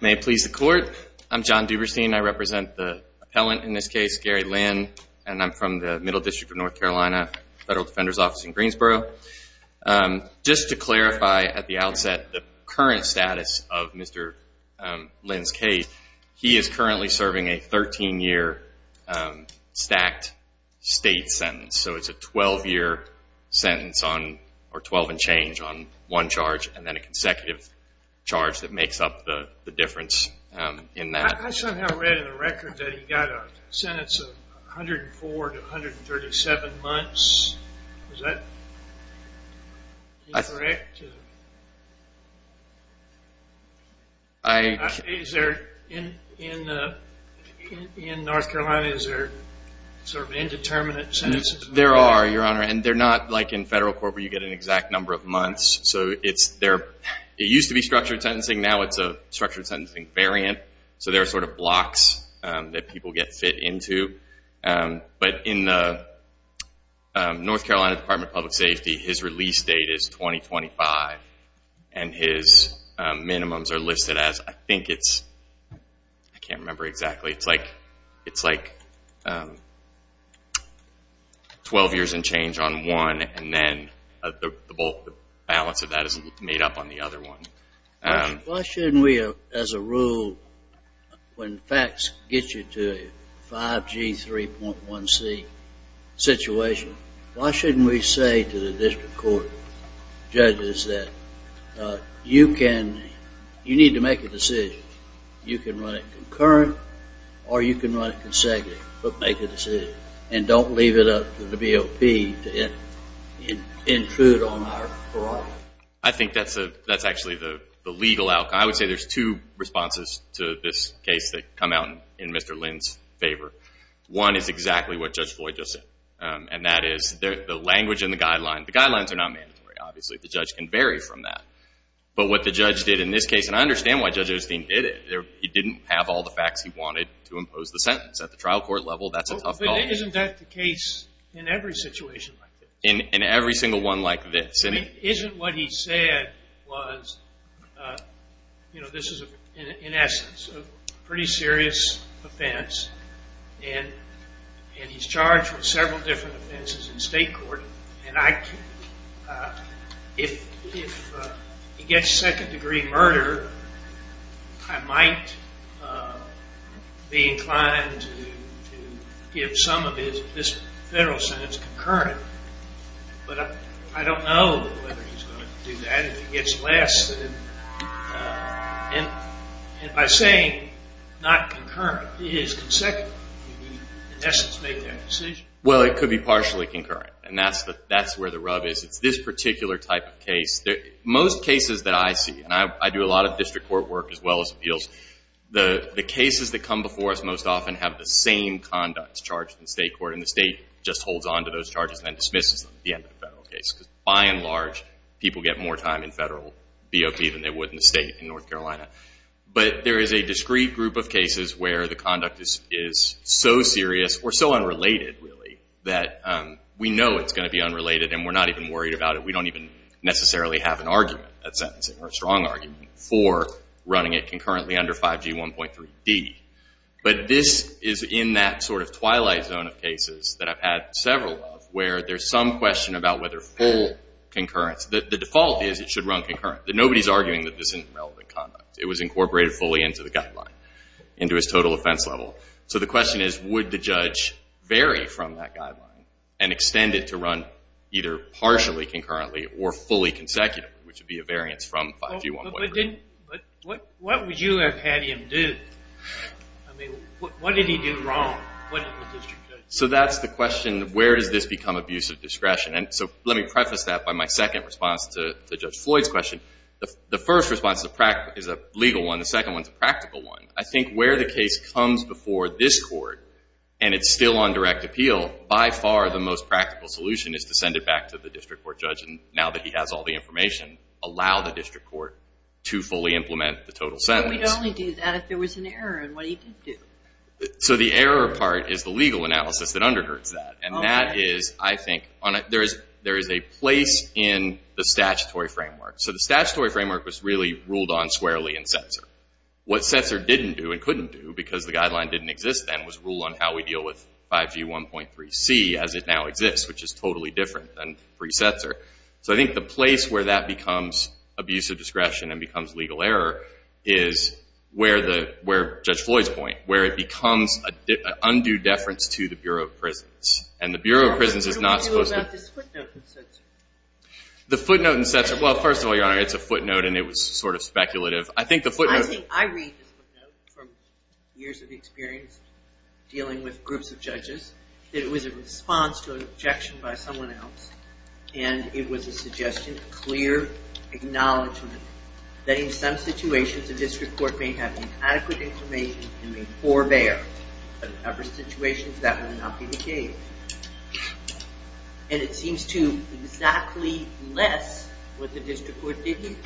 May it please the court. I'm John Duberstein. I represent the appellant in this case, Gary Lynn, and I'm from the Middle District of North Carolina, Federal Defender's Office in Greensboro. Just to clarify at the outset, the current status of Mr. Lynn's case, he is currently serving a 13-year stacked state sentence. So it's a 12-year sentence or 12 and change on one charge and then a consecutive charge that makes up the difference in that. I somehow read in the record that he got a sentence of 104 to 137 months. Is that correct? In North Carolina, is there sort of indeterminate sentences? There are, Your Honor, and they're not like in federal court where you get an exact number of months. So it used to be structured sentencing. Now it's a structured sentencing variant. So there are sort of blocks that people get fit into. But in the North Carolina Department of Public Safety, his release date is 2025 and his minimums are listed as, I think it's, I can't remember exactly. It's like 12 years and change on one and then the balance of that is made up on the other one. Why shouldn't we, as a rule, when facts get you to a 5G, 3.1C situation, why shouldn't we say to the district court judges that you need to make a decision? You can run it concurrent or you can run it consecutive, but make a decision. And don't leave it up to the BOP to intrude on our variety. I think that's actually the legal outcome. I would say there's two responses to this case that come out in Mr. Lynn's favor. One is exactly what Judge Floyd just said, and that is the language in the guidelines. The guidelines are not mandatory, obviously. The judge can vary from that. But what the judge did in this case, and I understand why Judge Osteen did it. He didn't have all the facts he wanted to impose the sentence. At the trial court level, that's a tough call. Isn't that the case in every situation like this? In every single one like this. Isn't what he said was, you know, this is, in essence, a pretty serious offense. And he's charged with several different offenses in state court. And if he gets second-degree murder, I might be inclined to give some of this federal sentence concurrent. But I don't know whether he's going to do that. If he gets less, and by saying not concurrent, it is consecutive. In essence, make that decision. Well, it could be partially concurrent, and that's where the rub is. It's this particular type of case. Most cases that I see, and I do a lot of district court work as well as appeals, the cases that come before us most often have the same conducts charged in state court, and the state just holds on to those charges and dismisses them at the end of the federal case. Because by and large, people get more time in federal BOP than they would in the state in North Carolina. But there is a discrete group of cases where the conduct is so serious or so unrelated, really, that we know it's going to be unrelated and we're not even worried about it. We don't even necessarily have an argument at sentencing or a strong argument for running it concurrently under 5G 1.3D. But this is in that sort of twilight zone of cases that I've had several of, where there's some question about whether full concurrence. The default is it should run concurrent. Nobody's arguing that this isn't relevant conduct. It was incorporated fully into the guideline, into its total offense level. So the question is, would the judge vary from that guideline and extend it to run either partially concurrently or fully consecutively, which would be a variance from 5G 1.3. But what would you have had him do? I mean, what did he do wrong? So that's the question. Where does this become abuse of discretion? And so let me preface that by my second response to Judge Floyd's question. The first response is a legal one. The second one is a practical one. I think where the case comes before this court and it's still on direct appeal, by far the most practical solution is to send it back to the district court judge now that he has all the information, allow the district court to fully implement the total sentence. But he could only do that if there was an error in what he did do. So the error part is the legal analysis that undergirds that. And that is, I think, there is a place in the statutory framework. So the statutory framework was really ruled on squarely in Setzer. What Setzer didn't do and couldn't do because the guideline didn't exist then was rule on how we deal with 5G 1.3c as it now exists, which is totally different than pre-Setzer. So I think the place where that becomes abuse of discretion and becomes legal error is where Judge Floyd's point, where it becomes an undue deference to the Bureau of Prisons. And the Bureau of Prisons is not supposed to... So what do you do about this footnote in Setzer? The footnote in Setzer, well, first of all, Your Honor, it's a footnote and it was sort of speculative. I think the footnote... I read this footnote from years of experience dealing with groups of judges. It was a response to an objection by someone else. And it was a suggestion, a clear acknowledgement that in some situations the district court may have inadequate information and may forbear. In other situations, that would not be the case. And it seems to exactly less what the district court didn't.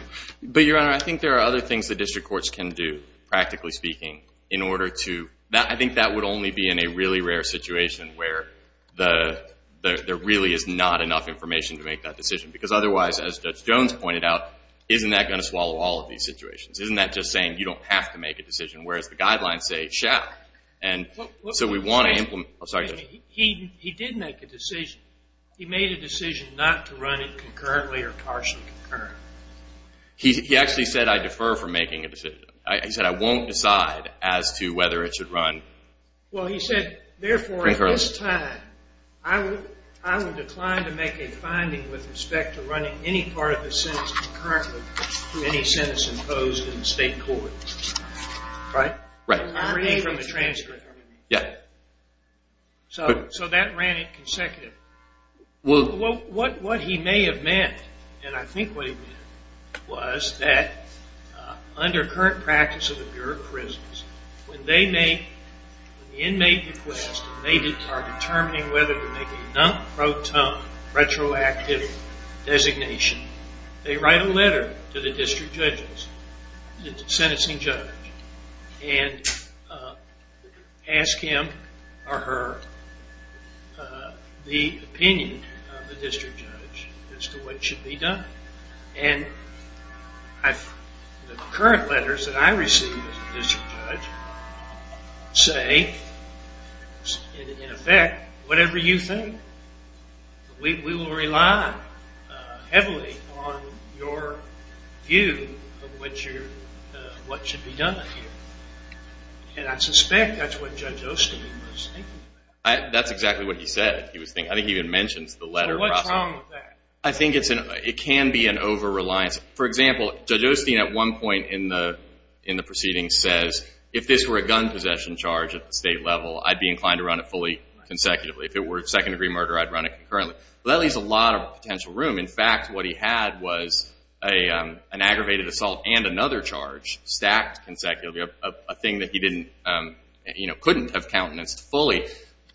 But, Your Honor, I think there are other things the district courts can do, practically speaking, in order to... I think that would only be in a really rare situation where there really is not enough information to make that decision. Because otherwise, as Judge Jones pointed out, isn't that going to swallow all of these situations? Isn't that just saying you don't have to make a decision, whereas the guidelines say you shall? And so we want to implement... He did make a decision. He made a decision not to run it concurrently or partially concurrently. He actually said I defer from making a decision. He said I won't decide as to whether it should run concurrently. Well, he said, therefore, at this time, I would decline to make a finding with respect to running any part of the sentence imposed in the state court. Right? Right. So that ran it consecutively. Well, what he may have meant, and I think what he meant, was that under current practice of the Bureau of Prisons, when they make an inmate request and they are determining whether to make a non-proton retroactive designation, they write a letter to the district judges, the sentencing judge, and ask him or her the opinion of the district judge as to what should be done. And the current letters that I receive as a district judge say, in effect, whatever you think. We will rely heavily on your view of what should be done here. And I suspect that's what Judge Osteen was thinking. That's exactly what he said he was thinking. I think he even mentions the letter. So what's wrong with that? I think it can be an over-reliance. For example, Judge Osteen at one point in the proceeding says, if this were a gun possession charge at the state level, I'd be inclined to run it fully consecutively. If it were a second-degree murder, I'd run it concurrently. Well, that leaves a lot of potential room. In fact, what he had was an aggravated assault and another charge stacked consecutively, a thing that he couldn't have countenanced fully.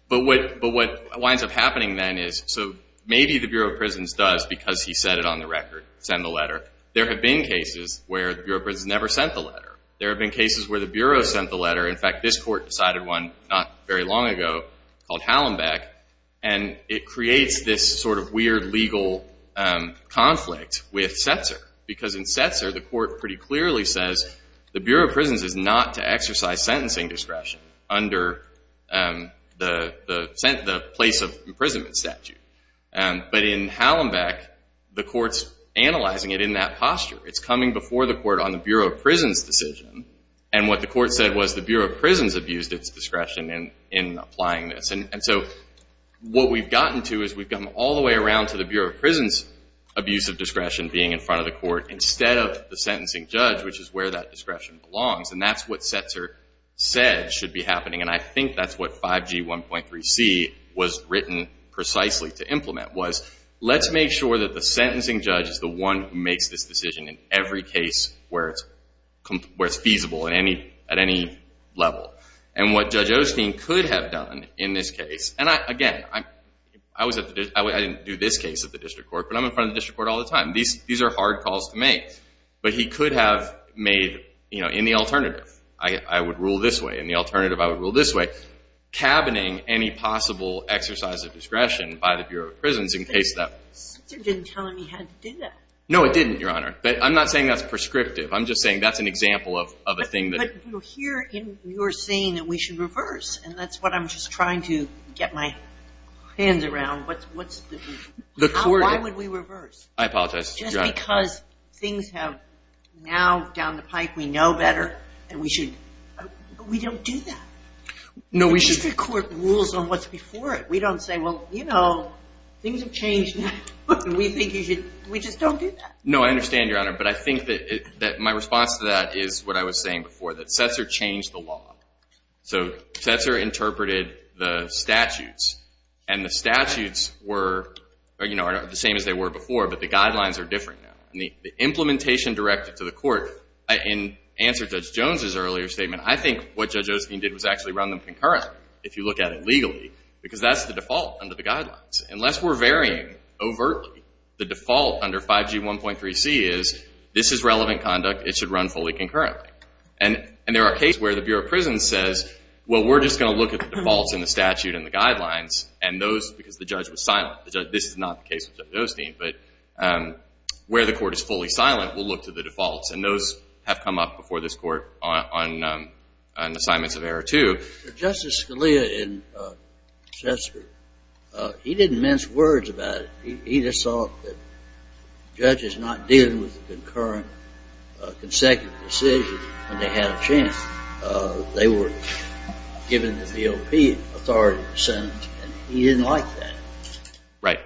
But what winds up happening then is, so maybe the Bureau of Prisons does because he said it on the record, send the letter. There have been cases where the Bureau of Prisons never sent the letter. There have been cases where the Bureau sent the letter. In fact, this court decided one not very long ago called Hallenbeck, and it creates this sort of weird legal conflict with Setzer because in Setzer, the court pretty clearly says the Bureau of Prisons is not to exercise sentencing discretion under the place of imprisonment statute. But in Hallenbeck, the court's analyzing it in that posture. It's coming before the court on the Bureau of Prisons' decision, and what the court said was the Bureau of Prisons abused its discretion in applying this. And so what we've gotten to is we've gotten all the way around to the Bureau of Prisons' abuse of discretion being in front of the court instead of the sentencing judge, which is where that discretion belongs. And that's what Setzer said should be happening, and I think that's what 5G 1.3c was written precisely to implement, was let's make sure that the sentencing judge is the one who makes this decision in every case where it's feasible at any level. And what Judge Osteen could have done in this case, and again, I didn't do this case at the district court, but I'm in front of the district court all the time. These are hard calls to make, but he could have made in the alternative, I would rule this way, in the alternative, I would rule this way, cabining any possible exercise of discretion by the Bureau of Prisons in case that. But Setzer didn't tell him he had to do that. No, it didn't, Your Honor. But I'm not saying that's prescriptive. I'm just saying that's an example of a thing that. But here you're saying that we should reverse, and that's what I'm just trying to get my hands around. What's the... The court... Why would we reverse? I apologize, Your Honor. Just because things have now down the pipe, we know better, and we should... But we don't do that. No, we should... The district court rules on what's before it. We don't say, well, you know, things have changed now, and we think you should... We just don't do that. No, I understand, Your Honor, but I think that my response to that is what I was saying before, that Setzer changed the law. So Setzer interpreted the statutes, and the statutes were the same as they were before, but the guidelines are different now. The implementation directed to the court, in answer to Judge Jones' earlier statement, I think what Judge Osteen did was actually run them concurrent, if you look at it legally, because that's the default under the guidelines. Unless we're varying overtly, the default under 5G 1.3c is this is relevant conduct. It should run fully concurrently. And there are cases where the Bureau of Prisons says, well, we're just going to look at the defaults in the statute and the guidelines, and those, because the judge was silent. This is not the case with Judge Osteen, but where the court is fully silent, we'll look to the defaults, and those have come up before this Court on assignments of error, too. Justice Scalia in Setzer, he didn't mince words about it. He just thought that judges not dealing with the concurrent, consecutive decisions when they had a chance, they were given the DOP authority in the Senate, and he didn't like that. Right.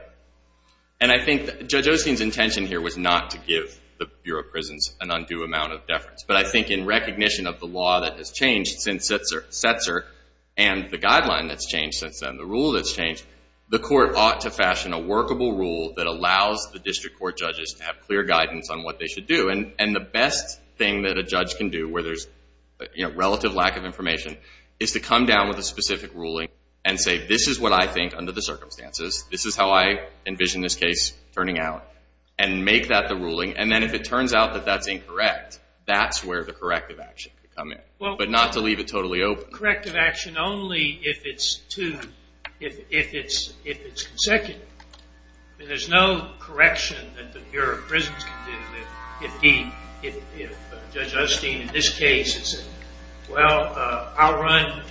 And I think Judge Osteen's intention here was not to give the Bureau of Prisons an undue amount of deference, but I think in recognition of the law that has changed since Setzer and the guideline that's changed since then, the rule that's changed, the court ought to fashion a workable rule that allows the district court judges to have clear guidance on what they should do. And the best thing that a judge can do where there's relative lack of information is to come down with a specific ruling and say, this is what I think under the circumstances, and make that the ruling. And then if it turns out that that's incorrect, that's where the corrective action could come in, but not to leave it totally open. Corrective action only if it's consecutive. I mean, there's no correction that the Bureau of Prisons can do if Judge Osteen in this case has said, well, I'll run.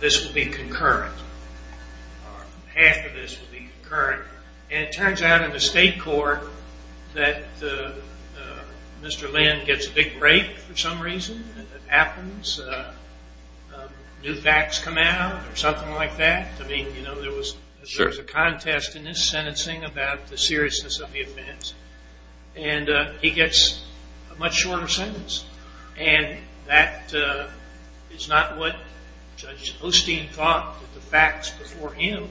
This will be concurrent. Half of this will be concurrent. And it turns out in the state court that Mr. Lynn gets a big break for some reason. It happens. New facts come out or something like that. I mean, you know, there was a contest in his sentencing about the seriousness of the offense, and he gets a much shorter sentence. And that is not what Judge Osteen thought the facts before him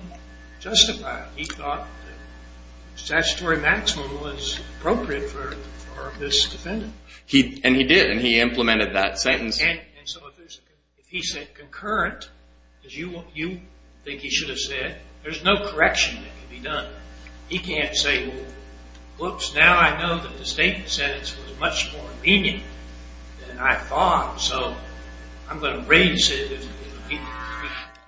justified. He thought that statutory maximum was appropriate for this defendant. And he did. And he implemented that sentence. And so if he said concurrent, as you think he should have said, there's no correction that can be done. He can't say, well, whoops, now I know that the state sentence was much more convenient than I thought, so I'm going to raise it.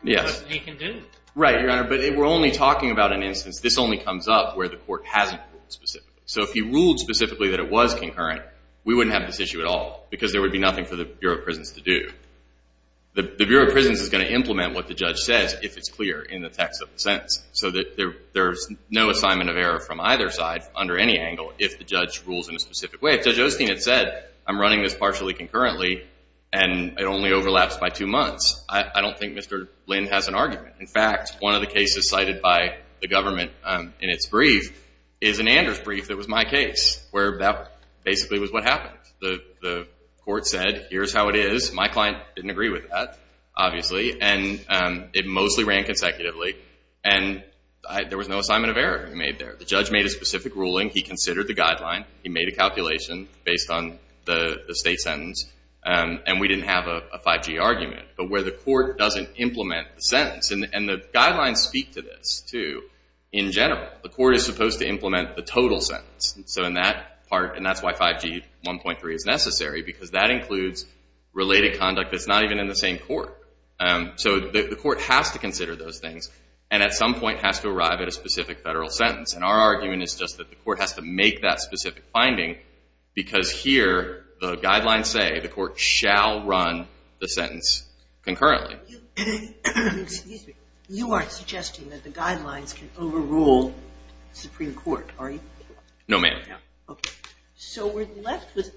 Yes. He can do it. Right, Your Honor, but we're only talking about an instance. This only comes up where the court hasn't ruled specifically. So if he ruled specifically that it was concurrent, we wouldn't have this issue at all because there would be nothing for the Bureau of Prisons to do. The Bureau of Prisons is going to implement what the judge says if it's clear in the text of the sentence so that there's no assignment of error from either side under any angle if the judge rules in a specific way. If Judge Osteen had said, I'm running this partially concurrently and it only overlaps by two months, I don't think Mr. Lynn has an argument. In fact, one of the cases cited by the government in its brief is an Anders brief that was my case where that basically was what happened. The court said, here's how it is. My client didn't agree with that, obviously, and it mostly ran consecutively, and there was no assignment of error he made there. The judge made a specific ruling. He considered the guideline. He made a calculation based on the state sentence, and we didn't have a 5G argument. But where the court doesn't implement the sentence, and the guidelines speak to this, too, in general, the court is supposed to implement the total sentence. So in that part, and that's why 5G 1.3 is necessary because that includes related conduct that's not even in the same court. So the court has to consider those things and at some point has to arrive at a specific federal sentence. And our argument is just that the court has to make that specific finding because here the guidelines say the court shall run the sentence concurrently. Excuse me. You aren't suggesting that the guidelines can overrule the Supreme Court, are you? No, ma'am. Okay. So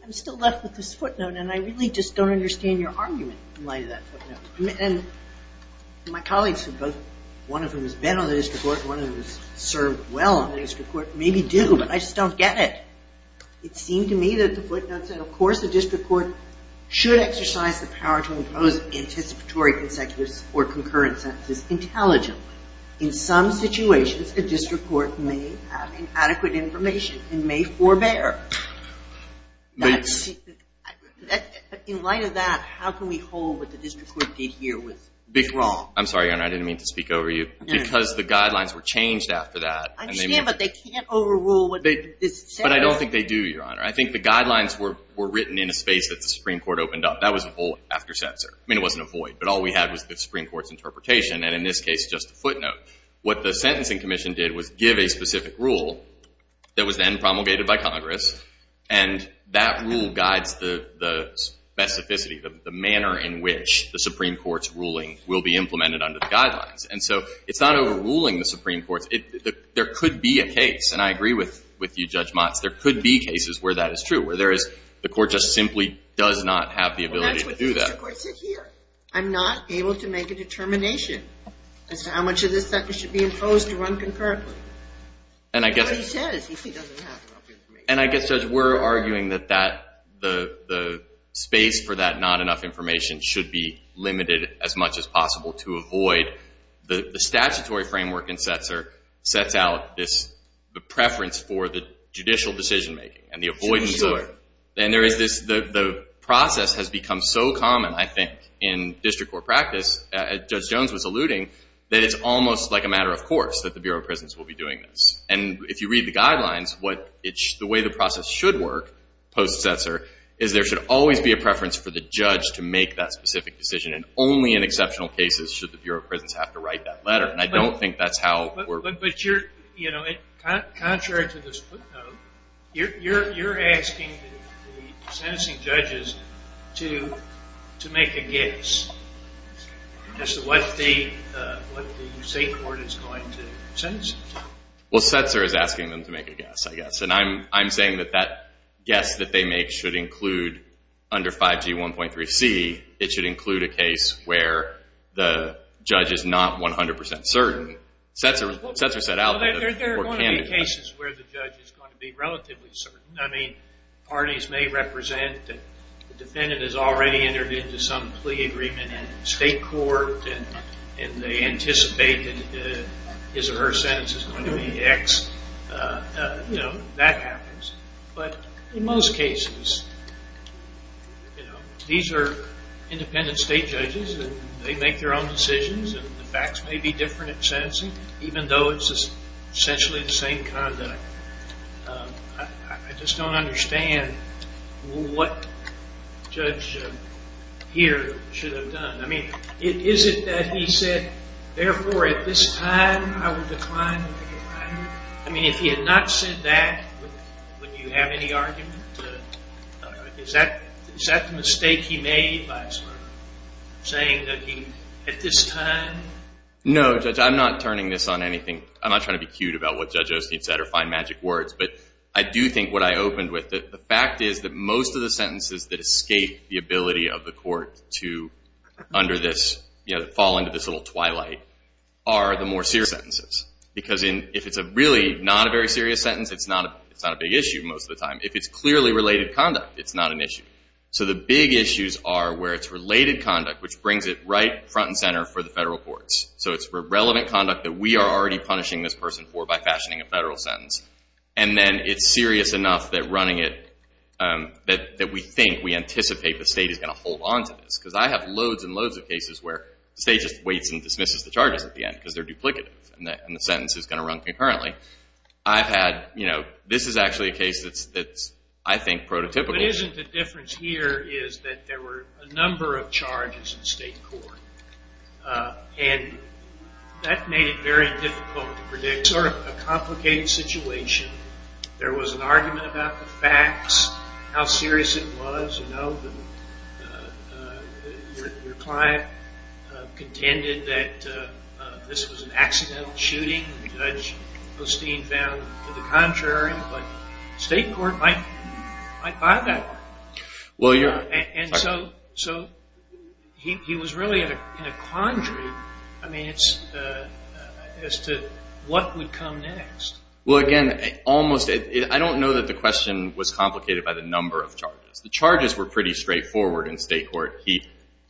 I'm still left with this footnote, and I really just don't understand your argument in light of that footnote. And my colleagues, one of whom has been on the district court, one of whom has served well on the district court, maybe do, but I just don't get it. It seemed to me that the footnote said, of course the district court should exercise the power to impose anticipatory consecutive or concurrent sentences intelligently. In some situations, a district court may have inadequate information and may forbear. In light of that, how can we hold what the district court did here was wrong? I'm sorry, Your Honor, I didn't mean to speak over you. Because the guidelines were changed after that. I understand, but they can't overrule what this says. But I don't think they do, Your Honor. I think the guidelines were written in a space that the Supreme Court opened up. That was a void after censor. I mean, it wasn't a void, but all we had was the Supreme Court's interpretation, and in this case, just a footnote. What the Sentencing Commission did was give a specific rule that was then promulgated by Congress, and that rule guides the specificity, the manner in which the Supreme Court's ruling will be implemented under the guidelines. And so it's not overruling the Supreme Court. There could be a case, and I agree with you, Judge Motz. There could be cases where that is true, where there is the court just simply does not have the ability to do that. Well, that's what the district court said here. I'm not able to make a determination as to how much of this sentence should be imposed to run concurrently. Nobody says if he doesn't have enough information. And I guess, Judge, we're arguing that the space for that not enough information should be limited as much as possible to avoid the statutory framework in Setzer sets out the preference for the judicial decision-making and the avoidance of it. And the process has become so common, I think, in district court practice, as Judge Jones was alluding, that it's almost like a matter of course that the Bureau of Prisons will be doing this. And if you read the guidelines, the way the process should work post-Setzer is there should always be a preference for the judge to make that specific decision, and only in exceptional cases should the Bureau of Prisons have to write that letter. And I don't think that's how we're... But you're, you know, contrary to this footnote, you're asking the sentencing judges to make a guess as to what the state court is going to sentence them to. Well, Setzer is asking them to make a guess, I guess. And I'm saying that that guess that they make should include under 5G 1.3c, it should include a case where the judge is not 100% certain. Setzer set out... Well, there are going to be cases where the judge is going to be relatively certain. I mean, parties may represent that the defendant has already entered into some plea agreement in state court, and they anticipate that his or her sentence is going to be X. You know, that happens. But in most cases, you know, these are independent state judges, and they make their own decisions, and the facts may be different at sentencing, even though it's essentially the same conduct. I just don't understand what Judge Heer should have done. I mean, is it that he said, therefore, at this time, I will decline... I mean, if he had not said that, would you have any argument? Is that the mistake he made by saying that he, at this time... No, Judge. I'm not turning this on anything. I'm not trying to be cute about what Judge Osteen said or find magic words, but I do think what I opened with, the fact is that most of the sentences that escape the ability of the court to fall into this little twilight are the more serious sentences. Because if it's really not a very serious sentence, it's not a big issue most of the time. If it's clearly related conduct, it's not an issue. So the big issues are where it's related conduct, which brings it right front and center for the federal courts. So it's relevant conduct that we are already punishing this person for by fashioning a federal sentence. And then it's serious enough that running it, that we think, we anticipate the state is going to hold on to this. Because I have loads and loads of cases where the state just waits and dismisses the charges at the end because they're duplicative, and the sentence is going to run concurrently. This is actually a case that's, I think, prototypical. But isn't the difference here is that there were a number of charges in state court. And that made it very difficult to predict. Sort of a complicated situation. There was an argument about the facts, how serious it was. Your client contended that this was an accidental shooting. Judge Postine found to the contrary. But state court might buy that. And so he was really in a quandary as to what would come next. Well, again, I don't know that the question was complicated by the number of charges. The charges were pretty straightforward in state court.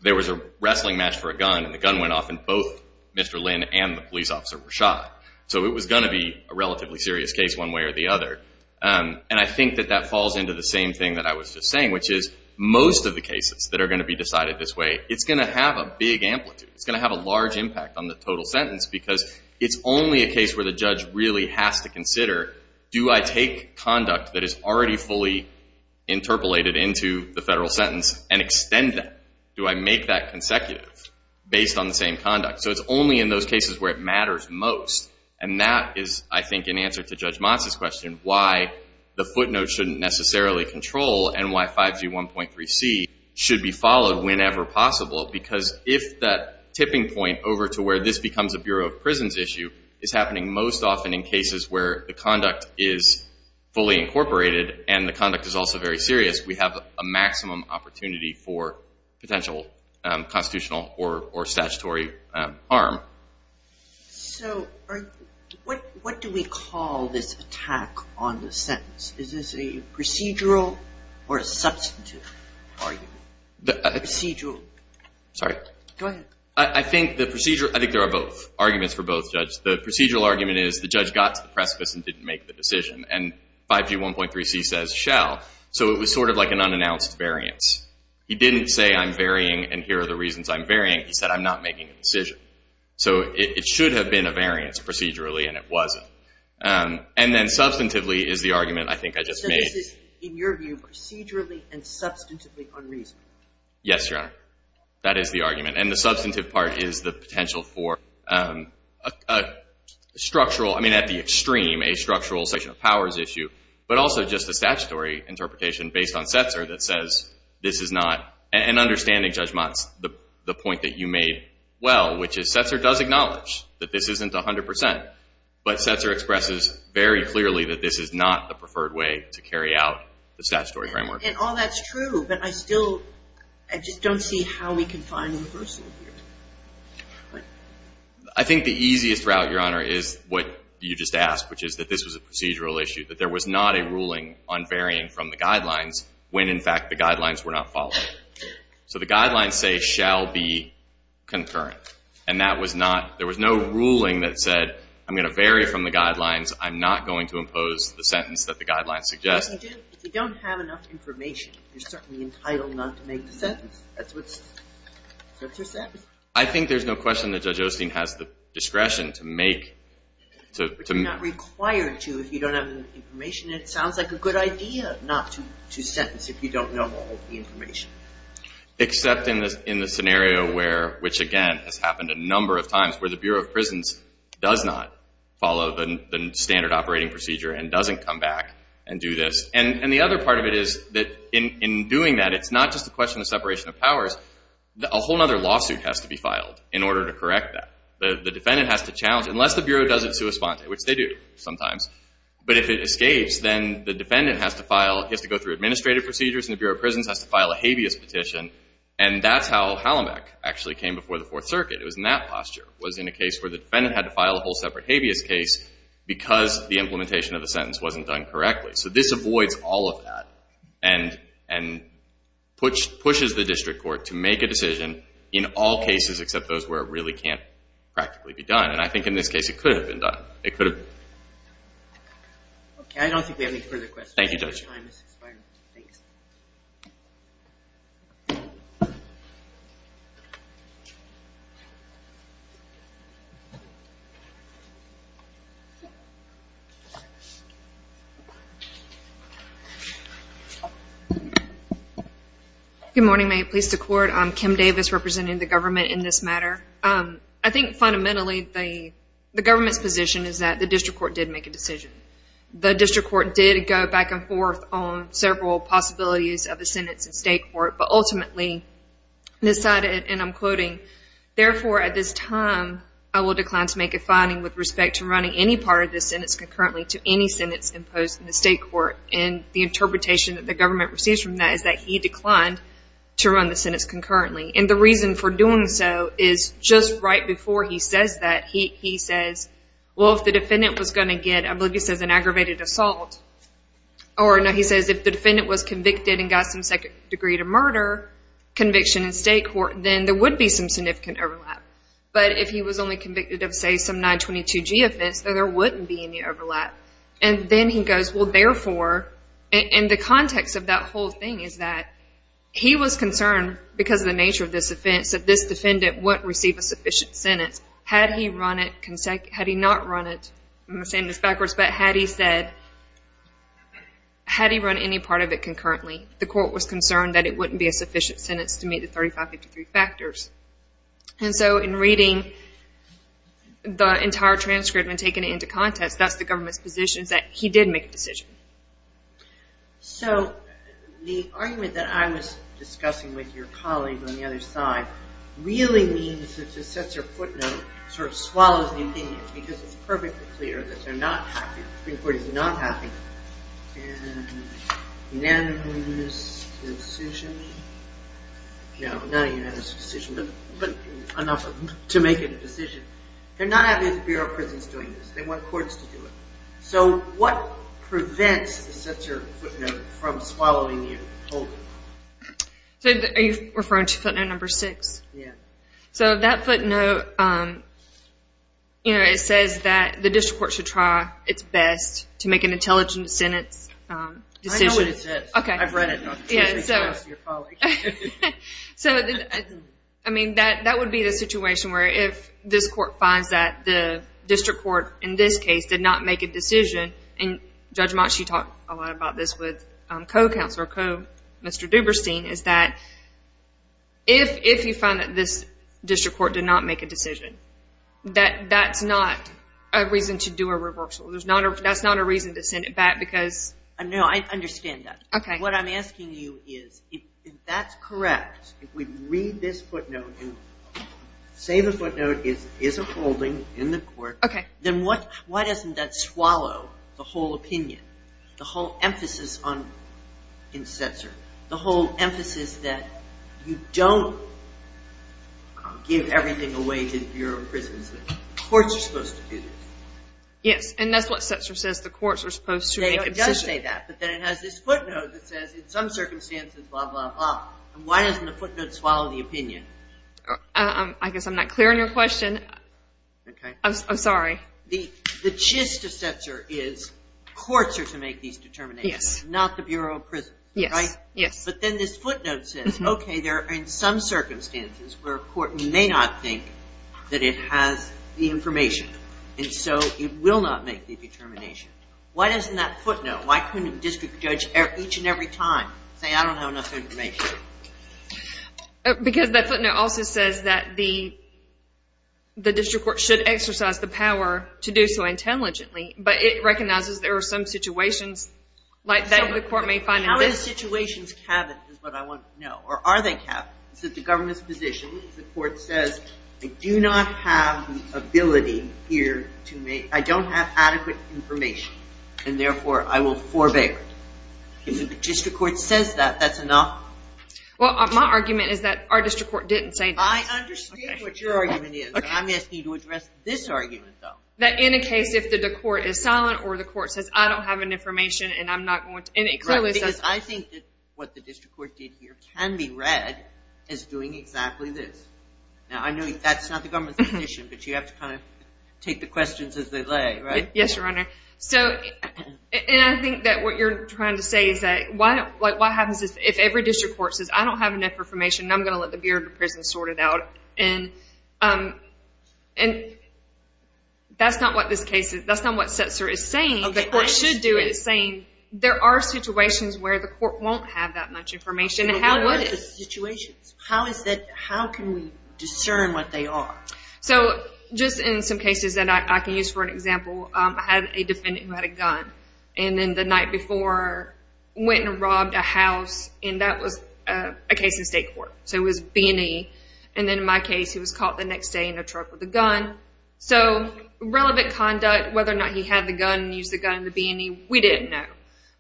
There was a wrestling match for a gun, so it was going to be a relatively serious case one way or the other. And I think that that falls into the same thing that I was just saying, which is most of the cases that are going to be decided this way, it's going to have a big amplitude. It's going to have a large impact on the total sentence because it's only a case where the judge really has to consider, do I take conduct that is already fully interpolated into the federal sentence and extend that? Do I make that consecutive based on the same conduct? So it's only in those cases where it matters most. And that is, I think, in answer to Judge Motz's question, why the footnote shouldn't necessarily control and why 5G 1.3c should be followed whenever possible. Because if that tipping point over to where this becomes a Bureau of Prisons issue is happening most often in cases where the conduct is fully incorporated and the conduct is also very serious, we have a maximum opportunity for potential constitutional or statutory harm. So what do we call this attack on the sentence? Is this a procedural or a substantive argument? Procedural. Sorry. Go ahead. I think there are both arguments for both, Judge. The procedural argument is the judge got to the precipice and didn't make the decision, and 5G 1.3c says shall. So it was sort of like an unannounced variance. He didn't say I'm varying and here are the reasons I'm varying. He said I'm not making a decision. So it should have been a variance procedurally, and it wasn't. And then substantively is the argument I think I just made. So this is, in your view, procedurally and substantively unreasonable? Yes, Your Honor. That is the argument. And the substantive part is the potential for a structural, I mean, at the extreme, a structural section of powers issue, but also just a statutory interpretation based on Setzer that says this is not, and understanding, Judge Motz, the point that you made well, which is Setzer does acknowledge that this isn't 100%, but Setzer expresses very clearly that this is not the preferred way to carry out the statutory framework. And all that's true, but I still just don't see how we can find a reversal here. I think the easiest route, Your Honor, is what you just asked, which is that this was a procedural issue, that there was not a ruling on varying from the guidelines when, in fact, the guidelines were not followed. So the guidelines say shall be concurrent, and that was not, there was no ruling that said I'm going to vary from the guidelines, I'm not going to impose the sentence that the guidelines suggest. If you don't have enough information, you're certainly entitled not to make the sentence. That's what Setzer said. I think there's no question that Judge Osteen has the discretion to make. But you're not required to if you don't have the information. It sounds like a good idea not to sentence if you don't know all the information. Except in the scenario where, which again has happened a number of times, where the Bureau of Prisons does not follow the standard operating procedure and doesn't come back and do this. And the other part of it is that in doing that, it's not just a question of separation of powers. A whole other lawsuit has to be filed in order to correct that. The defendant has to challenge, unless the Bureau does it sua sponte, which they do sometimes, but if it escapes, then the defendant has to go through administrative procedures and the Bureau of Prisons has to file a habeas petition. And that's how Hallebeck actually came before the Fourth Circuit. It was in that posture. It was in a case where the defendant had to file a whole separate habeas case because the implementation of the sentence wasn't done correctly. So this avoids all of that and pushes the district court to make a decision in all cases except those where it really can't practically be done. And I think in this case, it could have been done. It could have been. Okay. I don't think we have any further questions. Thank you, Judge. Good morning. May it please the Court. I'm Kim Davis representing the government in this matter. I think fundamentally the government's position is that the district court did make a decision. The district court did go back and forth on several possibilities of a sentence in state court, but ultimately decided, and I'm quoting, therefore at this time I will decline to make a finding with respect to running any part of this sentence concurrently to any sentence imposed in the state court. And the interpretation that the government receives from that is that he And the reason for doing so is just right before he says that, he says, well, if the defendant was going to get, I believe he says an aggravated assault, or no, he says if the defendant was convicted and got some second degree to murder conviction in state court, then there would be some significant overlap. But if he was only convicted of, say, some 922G offense, then there wouldn't be any overlap. And then he goes, well, therefore, and the context of that whole thing is that he was concerned because of the nature of this offense that this defendant wouldn't receive a sufficient sentence. Had he run it, had he not run it, I'm going to say this backwards, but had he said, had he run any part of it concurrently, the court was concerned that it wouldn't be a sufficient sentence to meet the 3553 factors. And so in reading the entire transcript and taking it into context, that's the government's position is that he did make a decision. So the argument that I was discussing with your colleague on the other side really means that this sets your footnote, sort of swallows the opinion, because it's perfectly clear that they're not happy. The Supreme Court is not happy. And unanimous decision? No, not a unanimous decision, but enough to make a decision. They're not happy with the Bureau of Prisons doing this. They want courts to do it. So what prevents such a footnote from swallowing the opinion? So are you referring to footnote number six? Yeah. So that footnote, you know, it says that the district court should try its best to make an intelligent sentence decision. I know what it says. Okay. I've read it. So, I mean, that would be the situation where if this court finds that the district court in this case did not make a decision, and Judge Motschi talked a lot about this with co-counselor, Mr. Duberstein, is that if you find that this district court did not make a decision, that that's not a reason to do a reversal. That's not a reason to send it back because. No, I understand that. Okay. What I'm asking you is if that's correct, if we read this footnote and say the footnote is upholding in the court, then why doesn't that swallow the whole opinion, the whole emphasis in Setzer, the whole emphasis that you don't give everything away to the Bureau of Prisons? Courts are supposed to do this. Yes, and that's what Setzer says. The courts are supposed to make a decision. It does say that, but then it has this footnote that says, in some circumstances, blah, blah, blah. Why doesn't the footnote swallow the opinion? I guess I'm not clear on your question. Okay. I'm sorry. The gist of Setzer is courts are to make these determinations, not the Bureau of Prisons, right? Yes, yes. But then this footnote says, okay, there are in some circumstances where a court may not think that it has the information, and so it will not make the determination. Why doesn't that footnote, why couldn't a district judge each and every time say, I don't have enough information? Because that footnote also says that the district court should exercise the power to do so intelligently, but it recognizes there are some situations like that the court may find invaluable. How are the situations cabinet is what I want to know. Or are they cabinet? Is it the government's position if the court says, I do not have the ability here to make, I don't have adequate information, and therefore I will forbear? If the district court says that, that's enough. Well, my argument is that our district court didn't say that. I understand what your argument is. I'm asking you to address this argument, though. That in a case if the court is silent or the court says, I don't have an information and I'm not going to, and it clearly says. Because I think that what the district court did here can be read as doing exactly this. Now I know that's not the government's position, Yes, Your Honor. And I think that what you're trying to say is that what happens if every district court says, I don't have enough information, and I'm going to let the Bureau of Prisons sort it out. And that's not what this case is. That's not what Setzer is saying. The court should do it. It's saying there are situations where the court won't have that much information. But what are the situations? How can we discern what they are? So just in some cases that I can use for an example, I had a defendant who had a gun. And then the night before went and robbed a house. And that was a case in state court. So it was B&E. And then in my case, he was caught the next day in a truck with a gun. So relevant conduct, whether or not he had the gun, used the gun in the B&E, we didn't know.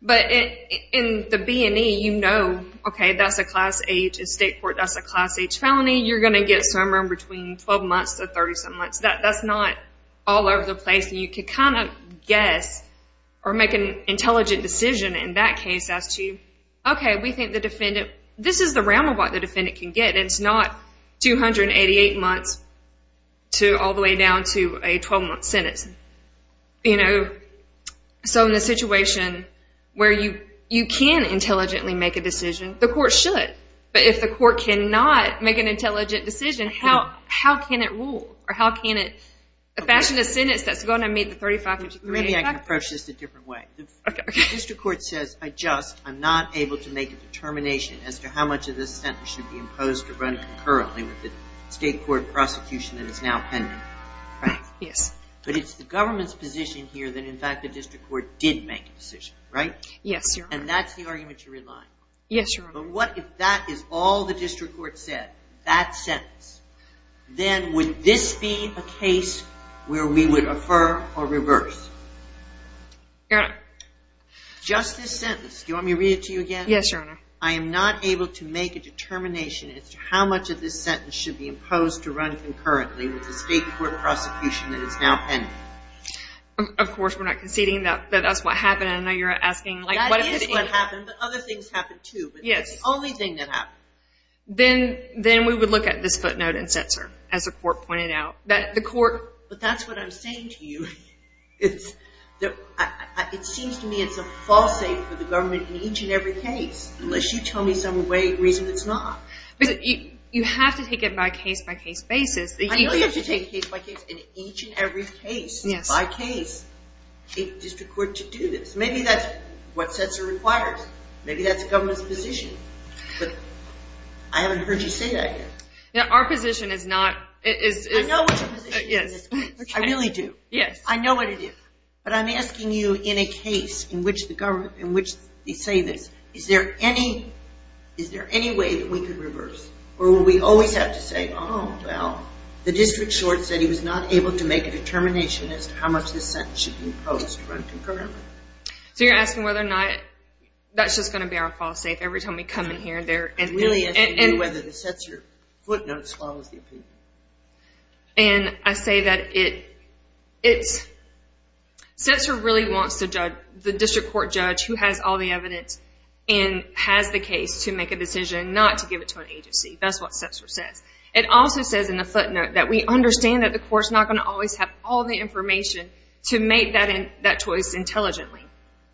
But in the B&E, you know, okay, that's a class H. In state court, that's a class H felony. You're going to get somewhere in between 12 months to 37 months. That's not all over the place. And you can kind of guess or make an intelligent decision in that case as to, okay, we think the defendant, this is the realm of what the defendant can get. It's not 288 months all the way down to a 12-month sentence. You know, so in a situation where you can intelligently make a decision, the court should. But if the court cannot make an intelligent decision, then how can it rule? Or how can it fashion a sentence that's going to meet the 35 to 38 factor? Maybe I can approach this a different way. Okay. The district court says, I just am not able to make a determination as to how much of this sentence should be imposed or run concurrently with the state court prosecution that is now pending. Right? Yes. But it's the government's position here that, in fact, the district court did make a decision, right? Yes, Your Honor. And that's the argument you're relying on. Yes, Your Honor. But what if that is all the district court said, that sentence? Then would this be a case where we would refer or reverse? Your Honor. Just this sentence. Do you want me to read it to you again? Yes, Your Honor. I am not able to make a determination as to how much of this sentence should be imposed or run concurrently with the state court prosecution that is now pending. Of course, we're not conceding that that's what happened. I know you're asking, like, what if it didn't? That is what happened. But other things happened, too. But that's the only thing that happened. Then we would look at this footnote in Setzer, as the court pointed out. But that's what I'm saying to you. It seems to me it's a false statement for the government in each and every case, unless you tell me some reason it's not. You have to take it by case-by-case basis. I know you have to take it case-by-case. In each and every case, by case, the district court should do this. Maybe that's what Setzer requires. Maybe that's the government's position. But I haven't heard you say that yet. Our position is not – I know what your position is. I really do. I know what it is. But I'm asking you in a case in which they say this, is there any way that we could reverse? Or will we always have to say, oh, well, the district court said he was not able to make a determination as to how much this sentence should be imposed? So you're asking whether or not that's just going to be our fall safe every time we come in here? I'm really asking you whether the Setzer footnote follows the opinion. And I say that it's – Setzer really wants the district court judge who has all the evidence and has the case to make a decision not to give it to an agency. That's what Setzer says. It also says in the footnote that we understand that the court's not going to always have all the information to make that choice intelligently.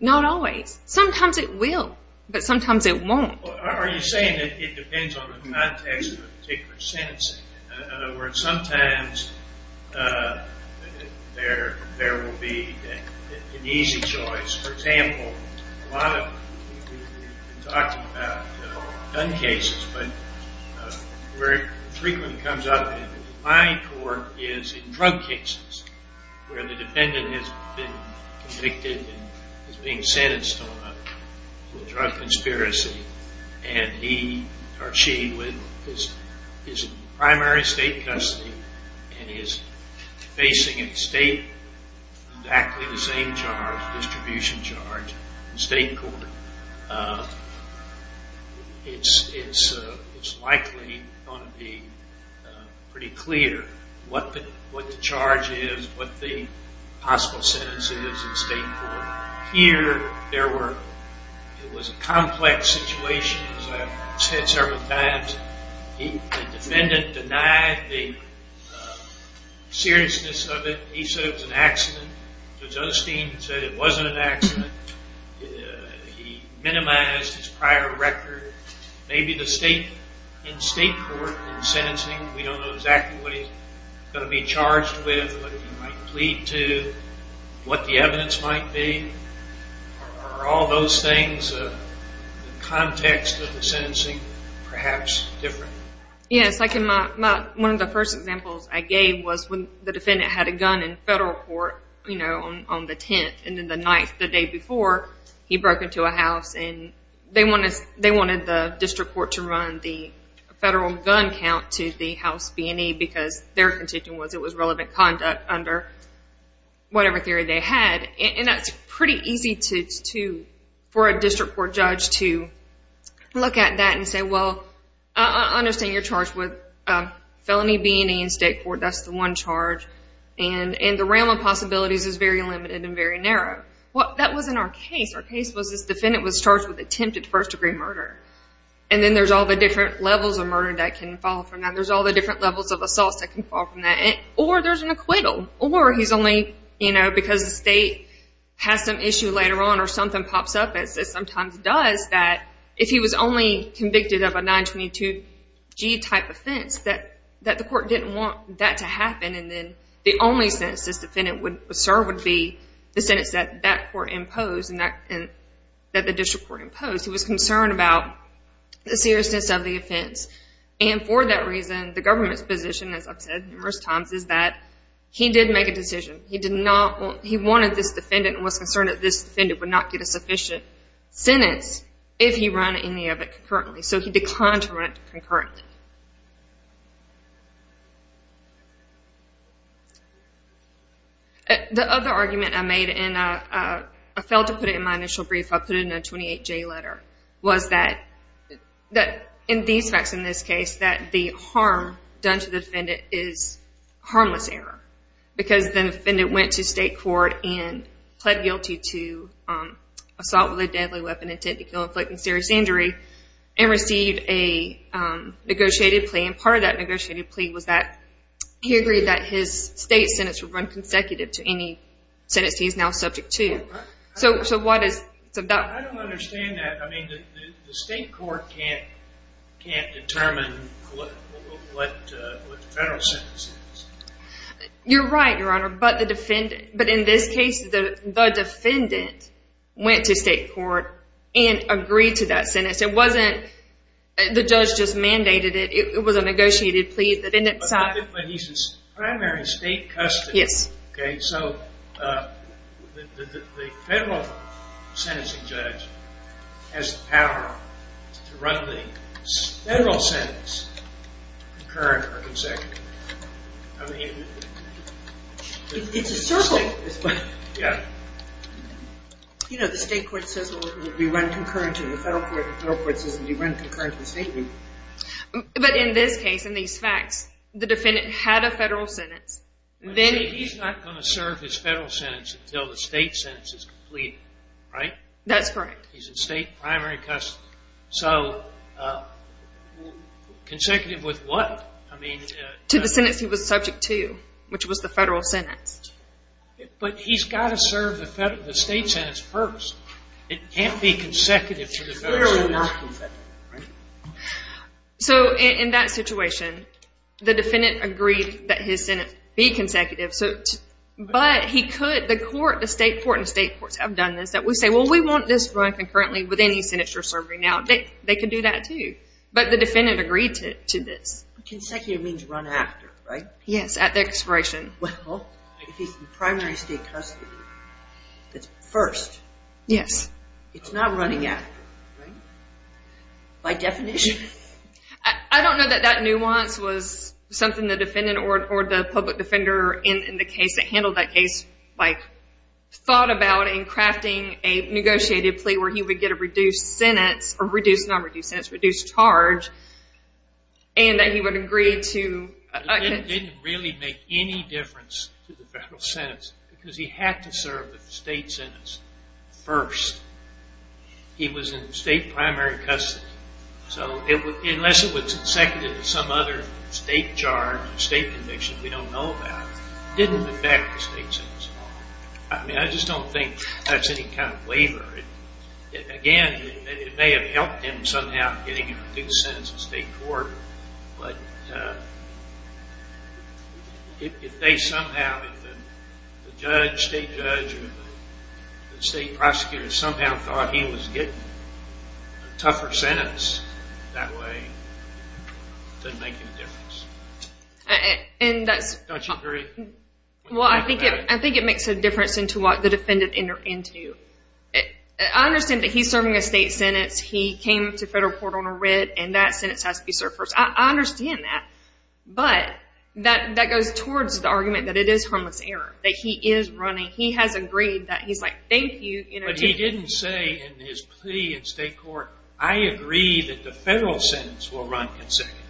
Not always. Sometimes it will, but sometimes it won't. Are you saying that it depends on the context of a particular sentence? In other words, sometimes there will be an easy choice. For example, a lot of – we've been talking about gun cases, but where it frequently comes up in my court is in drug cases where the defendant has been convicted and is being sentenced to a drug conspiracy and he or she is in primary state custody and is facing in state exactly the same charge, distribution charge, in state court. It's likely going to be pretty clear what the charge is, what the possible sentence is in state court. Here there were – it was a complex situation, as I've said several times. The defendant denied the seriousness of it. He said it was an accident. Josephine said it wasn't an accident. He minimized his prior record. Maybe in state court in sentencing we don't know exactly what he's going to be charged with, what he might plead to, what the evidence might be. Are all those things in the context of the sentencing perhaps different? Yes. One of the first examples I gave was when the defendant had a gun in federal court on the 10th and then the night, the day before, he broke into a house and they wanted the district court to run the federal gun count to the house B&E because their contention was it was relevant conduct under whatever theory they had. That's pretty easy for a district court judge to look at that and say, well, I understand you're charged with felony B&E in state court. That's the one charge. And the realm of possibilities is very limited and very narrow. Well, that wasn't our case. Our case was this defendant was charged with attempted first-degree murder. And then there's all the different levels of murder that can fall from that. There's all the different levels of assaults that can fall from that. Or there's an acquittal. Or he's only, you know, because the state has some issue later on or something pops up, as it sometimes does, that if he was only convicted of a 922G type offense, that the court didn't want that to happen and then the only sentence this defendant would serve would be the sentence that that court imposed and that the district court imposed. He was concerned about the seriousness of the offense. And for that reason, the government's position, as I've said numerous times, is that he did make a decision. He wanted this defendant and was concerned that this defendant would not get a sufficient sentence if he ran any of it concurrently. So he declined to run it concurrently. The other argument I made, and I failed to put it in my initial brief, I put it in a 28J letter, was that in these facts, in this case, that the harm done to the defendant is harmless error because the defendant went to state court and pled guilty to assault with a deadly weapon, intent to kill, inflict, and serious injury, and received a negotiated plea. And part of that negotiated plea was that he agreed that his state sentence would run consecutive to any sentence he is now subject to. So why does... I don't understand that. I mean, the state court can't determine what the federal sentence is. You're right, Your Honor, but the defendant... But in this case, the defendant went to state court and agreed to that sentence. It wasn't... The judge just mandated it. It was a negotiated plea. But he's in primary state custody. Yes. Okay, so the federal sentencing judge has the power to run the federal sentence concurrent or consecutive. I mean... It's a circle. Yeah. You know, the state court says we run concurrent, and the federal court says we run concurrent. But in this case, in these facts, the defendant had a federal sentence. He's not going to serve his federal sentence until the state sentence is completed, right? That's correct. He's in state primary custody. So consecutive with what? To the sentence he was subject to, which was the federal sentence. But he's got to serve the state sentence first. It can't be consecutive to the federal sentence. It's clearly not consecutive, right? So in that situation, the defendant agreed that his sentence be consecutive. But he could... The court, the state court, and the state courts have done this, that we say, well, we want this run concurrently with any sentence you're serving now. They can do that too. But the defendant agreed to this. Consecutive means run after, right? Yes, at the expiration. Well, if he's in primary state custody, that's first. Yes. It's not running after, right? By definition? I don't know that that nuance was something the defendant or the public defender in the case that handled that case, like, thought about in crafting a negotiated plea where he would get a reduced sentence, or reduced, not reduced sentence, reduced charge, and that he would agree to... It didn't really make any difference to the federal sentence because he had to serve the state sentence first. He was in state primary custody. So unless it was consecutive to some other state charge or state conviction we don't know about, it didn't affect the state sentence at all. I mean, I just don't think that's any kind of waiver. Again, it may have helped him somehow getting a reduced sentence in state court, but if they somehow, if the judge, state judge, or the state prosecutor somehow thought he was getting a tougher sentence that way, it doesn't make any difference. Don't you agree? Well, I think it makes a difference into what the defendant entered into. I understand that he's serving a state sentence, he came to federal court on a writ, and that sentence has to be served first. I understand that, but that goes towards the argument that it is harmless error, that he is running, he has agreed, that he's like, thank you. But he didn't say in his plea in state court, I agree that the federal sentence will run consecutive.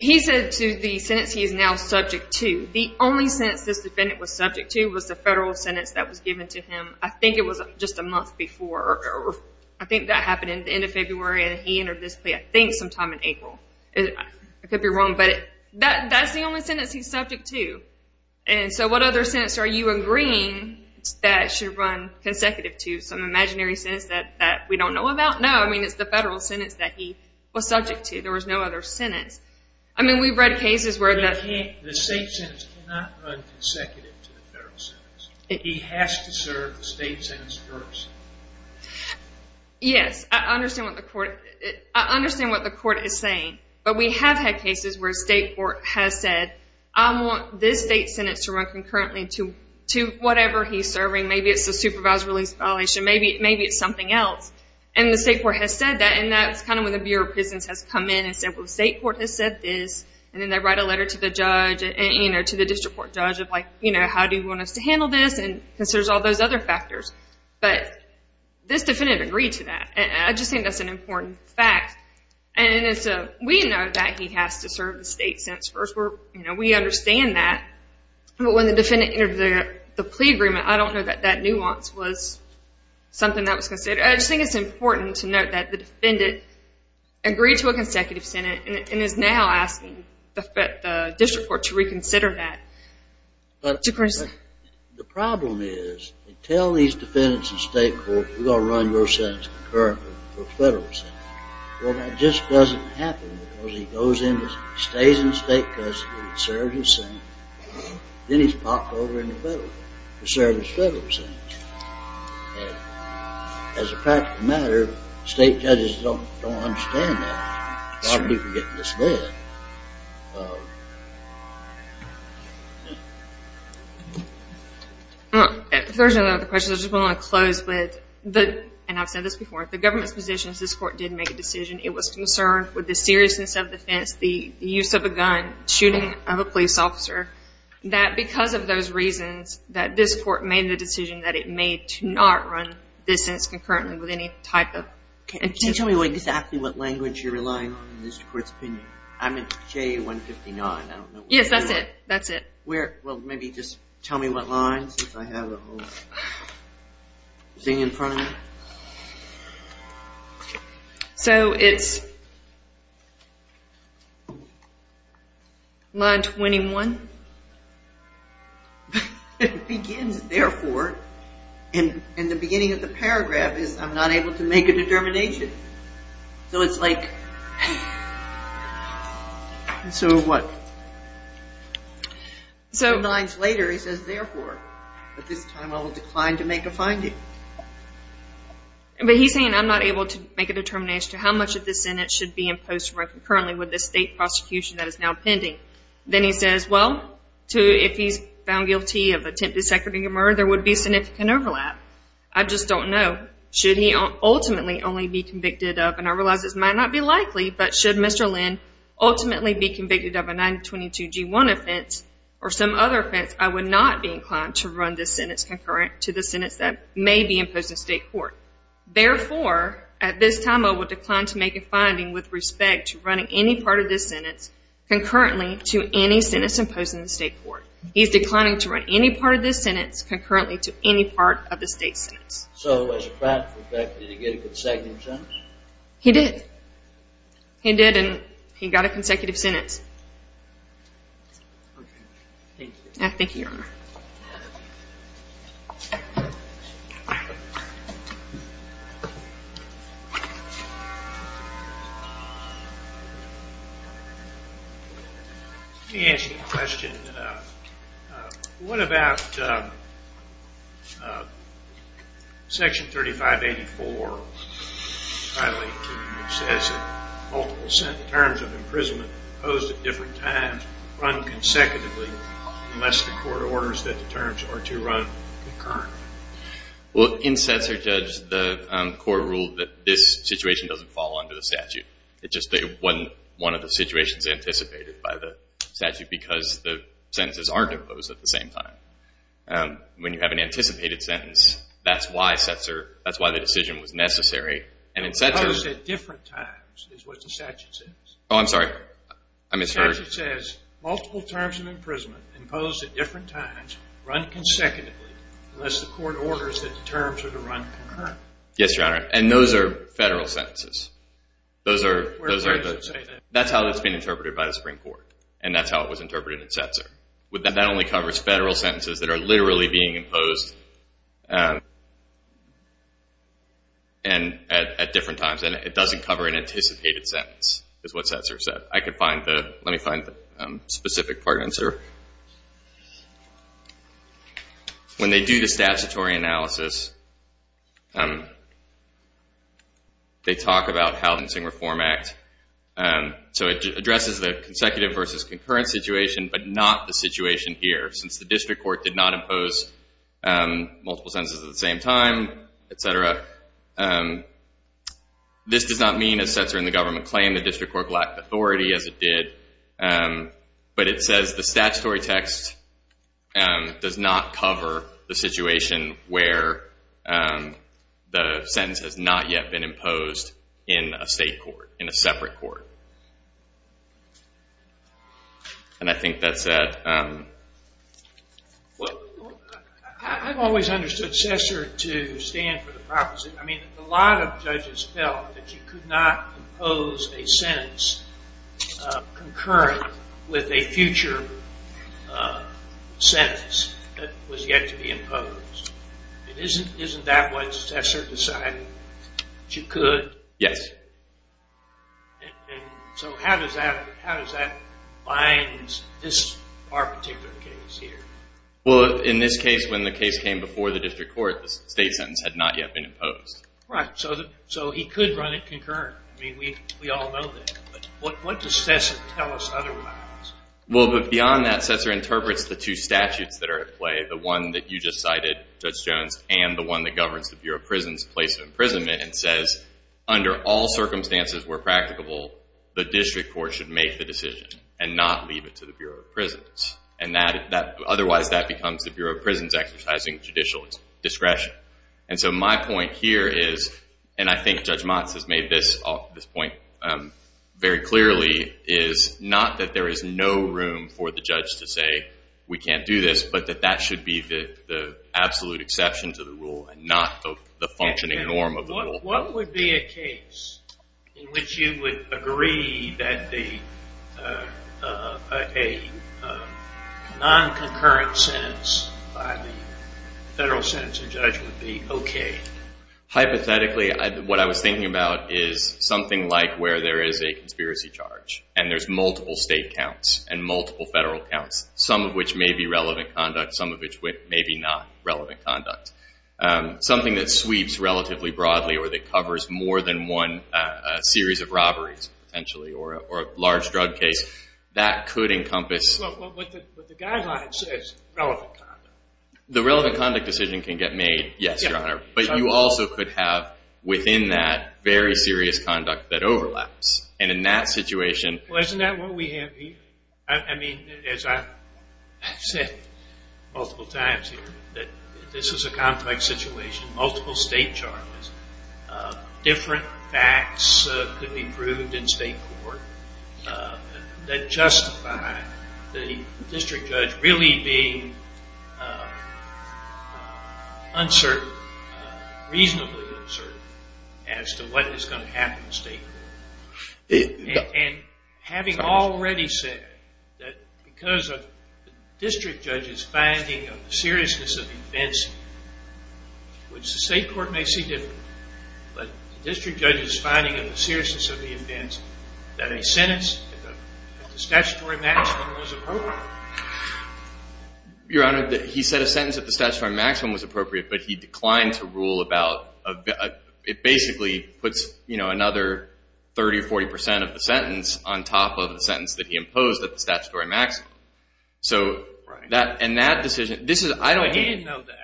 He said to the sentence he is now subject to, the only sentence this defendant was subject to was the federal sentence that was given to him, I think it was just a month before. I think that happened at the end of February, and he entered this plea, I think, sometime in April. I could be wrong, but that's the only sentence he's subject to. And so what other sentence are you agreeing that should run consecutive to, some imaginary sentence that we don't know about? No, I mean, it's the federal sentence that he was subject to, there was no other sentence. I mean, we've read cases where the state sentence cannot run consecutive to the federal sentence. He has to serve the state sentence first. Yes, I understand what the court is saying, but we have had cases where state court has said, I want this state sentence to run concurrently to whatever he's serving. Maybe it's a supervised release violation, maybe it's something else. And the state court has said that, and that's kind of when the Bureau of Prisons has come in and said, well, the state court has said this, and then they write a letter to the judge, to the district court judge, of like, how do you want us to handle this, because there's all those other factors. But this defendant agreed to that, and I just think that's an important fact. And we know that he has to serve the state sentence first. We understand that. But when the defendant entered the plea agreement, I don't know that that nuance was something that was considered. I just think it's important to note that the defendant agreed to a consecutive sentence and is now asking the district court to reconsider that. The problem is, they tell these defendants in state court, we're going to run your sentence concurrently to a federal sentence. Well, that just doesn't happen, because he goes in, he stays in the state court, he serves his sentence, then he's popped over in the federal court to serve his federal sentence. As a practical matter, state judges don't understand that. A lot of people get in this way. If there's no other questions, I just want to close with, and I've said this before, the government's position is this court did make a decision. It was concerned with the seriousness of the offense, the use of a gun, shooting of a police officer, that because of those reasons, that this court made the decision that it made to not run this sentence concurrently with any type of... Can you tell me exactly what language you're relying on in this court's opinion? I'm at J159. Yes, that's it. That's it. Well, maybe just tell me what line, since I have a whole thing in front of me. So, it's line 21. It begins, therefore, and the beginning of the paragraph is, I'm not able to make a determination. So, it's like... So, what? Two lines later, he says, therefore, but this time I will decline to make a finding. But he's saying, I'm not able to make a determination as to how much of this sentence should be imposed concurrently with the state prosecution that is now pending. Then he says, well, if he's found guilty of attempted second degree murder, there would be significant overlap. I just don't know. Should he ultimately only be convicted of, and I realize this might not be likely, but should Mr. Lynn ultimately be convicted of a 922G1 offense or some other offense, I would not be inclined to run this sentence concurrent to the sentence that may be imposed in state court. Therefore, at this time, I would decline to make a finding with respect to running any part of this sentence concurrently to any sentence imposed in the state court. He's declining to run any part of this sentence concurrently to any part of the state sentence. So, as a practical effect, did he get a consecutive sentence? He did. He did, and he got a consecutive sentence. Okay. Thank you. Thank you, Your Honor. Let me ask you a question. What about Section 3584, which says that multiple terms of imprisonment imposed at different times run consecutively unless the court orders that the terms are to run concurrently? Well, in Censor Judge, the court ruled that this situation doesn't fall under the statute. It just wasn't one of the situations anticipated by the statute because the sentences aren't imposed at the same time. When you have an anticipated sentence, that's why the decision was necessary. Imposed at different times is what the statute says. Oh, I'm sorry. I misheard. The statute says multiple terms of imprisonment imposed at different times run consecutively unless the court orders that the terms are to run concurrently. Yes, Your Honor. And those are federal sentences. That's how it's been interpreted by the Supreme Court, and that's how it was interpreted in Censor. That only covers federal sentences that are literally being imposed at different times, and it doesn't cover an anticipated sentence is what Censor said. Let me find the specific part. Censor. When they do the statutory analysis, they talk about how it's in Reform Act. So it addresses the consecutive versus concurrent situation but not the situation here since the district court did not impose multiple sentences at the same time, et cetera. This does not mean, as Censor and the government claim, the district court lacked authority as it did, but it says the statutory text does not cover the situation where the sentence has not yet been imposed in a state court, in a separate court. And I think that's that. Well, I've always understood Censor to stand for the prophecy. I mean, a lot of judges felt that you could not impose a sentence concurrent with a future sentence that was yet to be imposed. Isn't that what Censor decided that you could? Yes. And so how does that bind this particular case here? Well, in this case, when the case came before the district court, the state sentence had not yet been imposed. Right. So he could run it concurrent. I mean, we all know that. But what does Censor tell us otherwise? Well, beyond that, Censor interprets the two statutes that are at play, the one that you just cited, Judge Jones, and the one that governs the Bureau of Prisons' place of imprisonment and says under all circumstances where practicable, the district court should make the decision and not leave it to the Bureau of Prisons. Otherwise that becomes the Bureau of Prisons exercising judicial discretion. And so my point here is, and I think Judge Motz has made this point very clearly, is not that there is no room for the judge to say we can't do this, but that that should be the absolute exception to the rule and not the functioning norm of the rule. What would be a case in which you would agree that a non-concurrent sentence by the federal sentencing judge would be okay? Hypothetically, what I was thinking about is something like where there is a conspiracy charge and there's multiple state counts and multiple federal counts, some of which may be relevant conduct, some of which may be not relevant conduct, something that sweeps relatively broadly or that covers more than one series of robberies, potentially, or a large drug case, that could encompass... But the guideline says relevant conduct. The relevant conduct decision can get made, yes, Your Honor, but you also could have within that very serious conduct that overlaps. And in that situation... Well, isn't that what we have here? I mean, as I've said multiple times here, that this is a complex situation, multiple state charges, different facts could be proved in state court that justify the district judge really being uncertain, reasonably uncertain as to what is going to happen in state court. And having already said that because of the district judge's finding of the seriousness of the events, which the state court may see differently, but the district judge's finding of the seriousness of the events, that a sentence at the statutory maximum was appropriate. Your Honor, he said a sentence at the statutory maximum was appropriate, but he declined to rule about... It basically puts another 30% or 40% of the sentence on top of the sentence that he imposed at the statutory maximum. And that decision... But he didn't know that.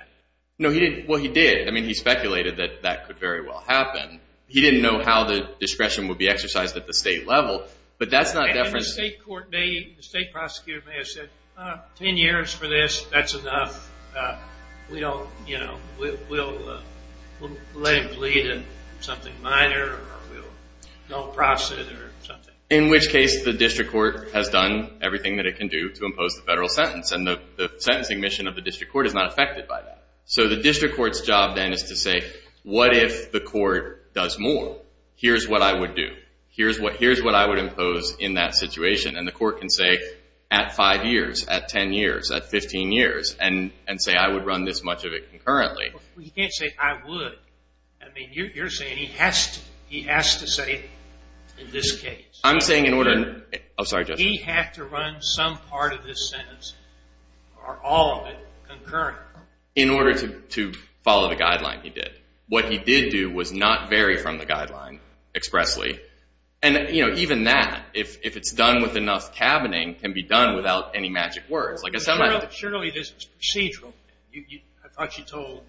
No, he didn't. Well, he did. I mean, he speculated that that could very well happen. He didn't know how the discretion would be exercised at the state level, but that's not... And the state court may, the state prosecutor may have said, 10 years for this, that's enough. We don't, you know, we'll let him plead in something minor or we'll don't process it or something. In which case the district court has done everything that it can do to impose the federal sentence. And the sentencing mission of the district court is not affected by that. So the district court's job then is to say, what if the court does more? Here's what I would do. Here's what I would impose in that situation. And the court can say, at 5 years, at 10 years, at 15 years, and say I would run this much of it concurrently. Well, you can't say I would. I mean, you're saying he has to. He has to say it in this case. I'm saying in order to... I'm sorry, Judge. He had to run some part of this sentence or all of it concurrently. In order to follow the guideline he did. What he did do was not vary from the guideline expressly. And, you know, even that, if it's done with enough tabening, can be done without any magic words. Surely this is procedural. I thought you told...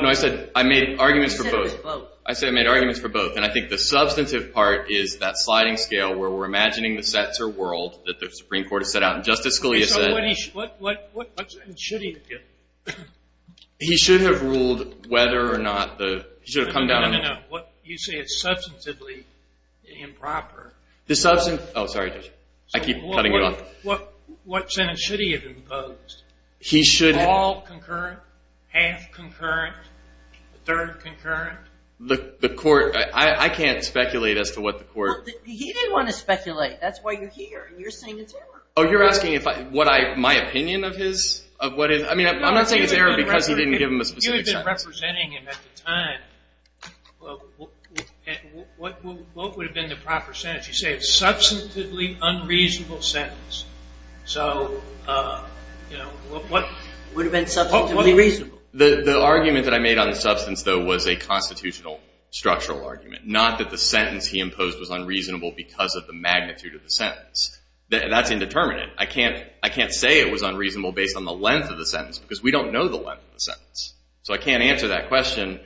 No, I said I made arguments for both. I said I made arguments for both. And I think the substantive part is that sliding scale where we're imagining the sets or world that the Supreme Court has set out. And Justice Scalia said... So what should he have done? He should have ruled whether or not the... No, no, no. You say it's substantively improper. The substantive... Oh, sorry, Judge. I keep cutting you off. What sentence should he have imposed? He should have... All concurrent, half concurrent, third concurrent. The court... I can't speculate as to what the court... He didn't want to speculate. That's why you're here. You're saying it's error. Oh, you're asking my opinion of his? I mean, I'm not saying it's error because he didn't give him a specific sentence. If you had been representing him at the time, what would have been the proper sentence? You say it's a substantively unreasonable sentence. So, you know, what... It would have been substantively reasonable. The argument that I made on the substance, though, was a constitutional structural argument, not that the sentence he imposed was unreasonable because of the magnitude of the sentence. That's indeterminate. I can't say it was unreasonable based on the length of the sentence because we don't know the length of the sentence. So I can't answer that question.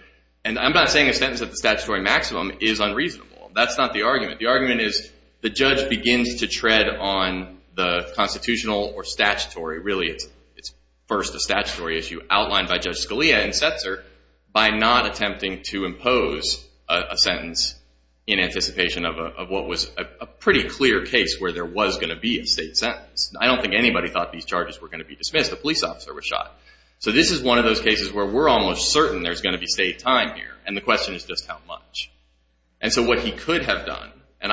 And I'm not saying a sentence at the statutory maximum is unreasonable. That's not the argument. The argument is the judge begins to tread on the constitutional or statutory... Really, it's first a statutory issue outlined by Judge Scalia and Setzer by not attempting to impose a sentence in anticipation of what was a pretty clear case where there was going to be a state sentence. I don't think anybody thought these charges were going to be dismissed. I guess the police officer was shot. So this is one of those cases where we're almost certain there's going to be state time here, and the question is just how much. And so what he could have done, and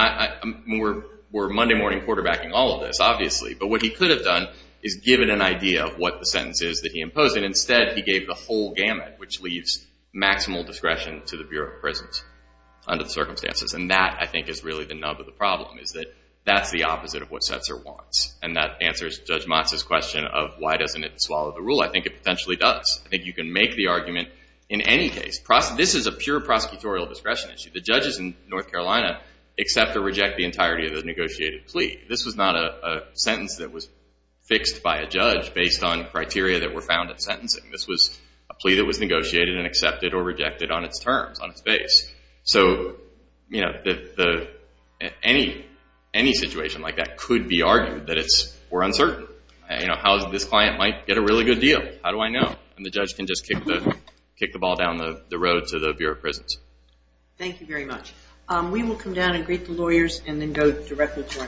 we're Monday morning quarterbacking all of this, obviously, but what he could have done is given an idea of what the sentence is that he imposed, and instead he gave the whole gamut, which leaves maximal discretion to the Bureau of Prisons under the circumstances. And that, I think, is really the nub of the problem, is that that's the opposite of what Setzer wants, and that answers Judge Motz's question of why doesn't it swallow the rule. I think it potentially does. I think you can make the argument in any case. This is a pure prosecutorial discretion issue. The judges in North Carolina accept or reject the entirety of the negotiated plea. This was not a sentence that was fixed by a judge based on criteria that were found in sentencing. This was a plea that was negotiated and accepted or rejected on its terms, on its base. So, you know, any situation like that could be argued that it's more uncertain. You know, how this client might get a really good deal. How do I know? And the judge can just kick the ball down the road to the Bureau of Prisons. Thank you very much. We will come down and greet the lawyers and then go directly to our next case.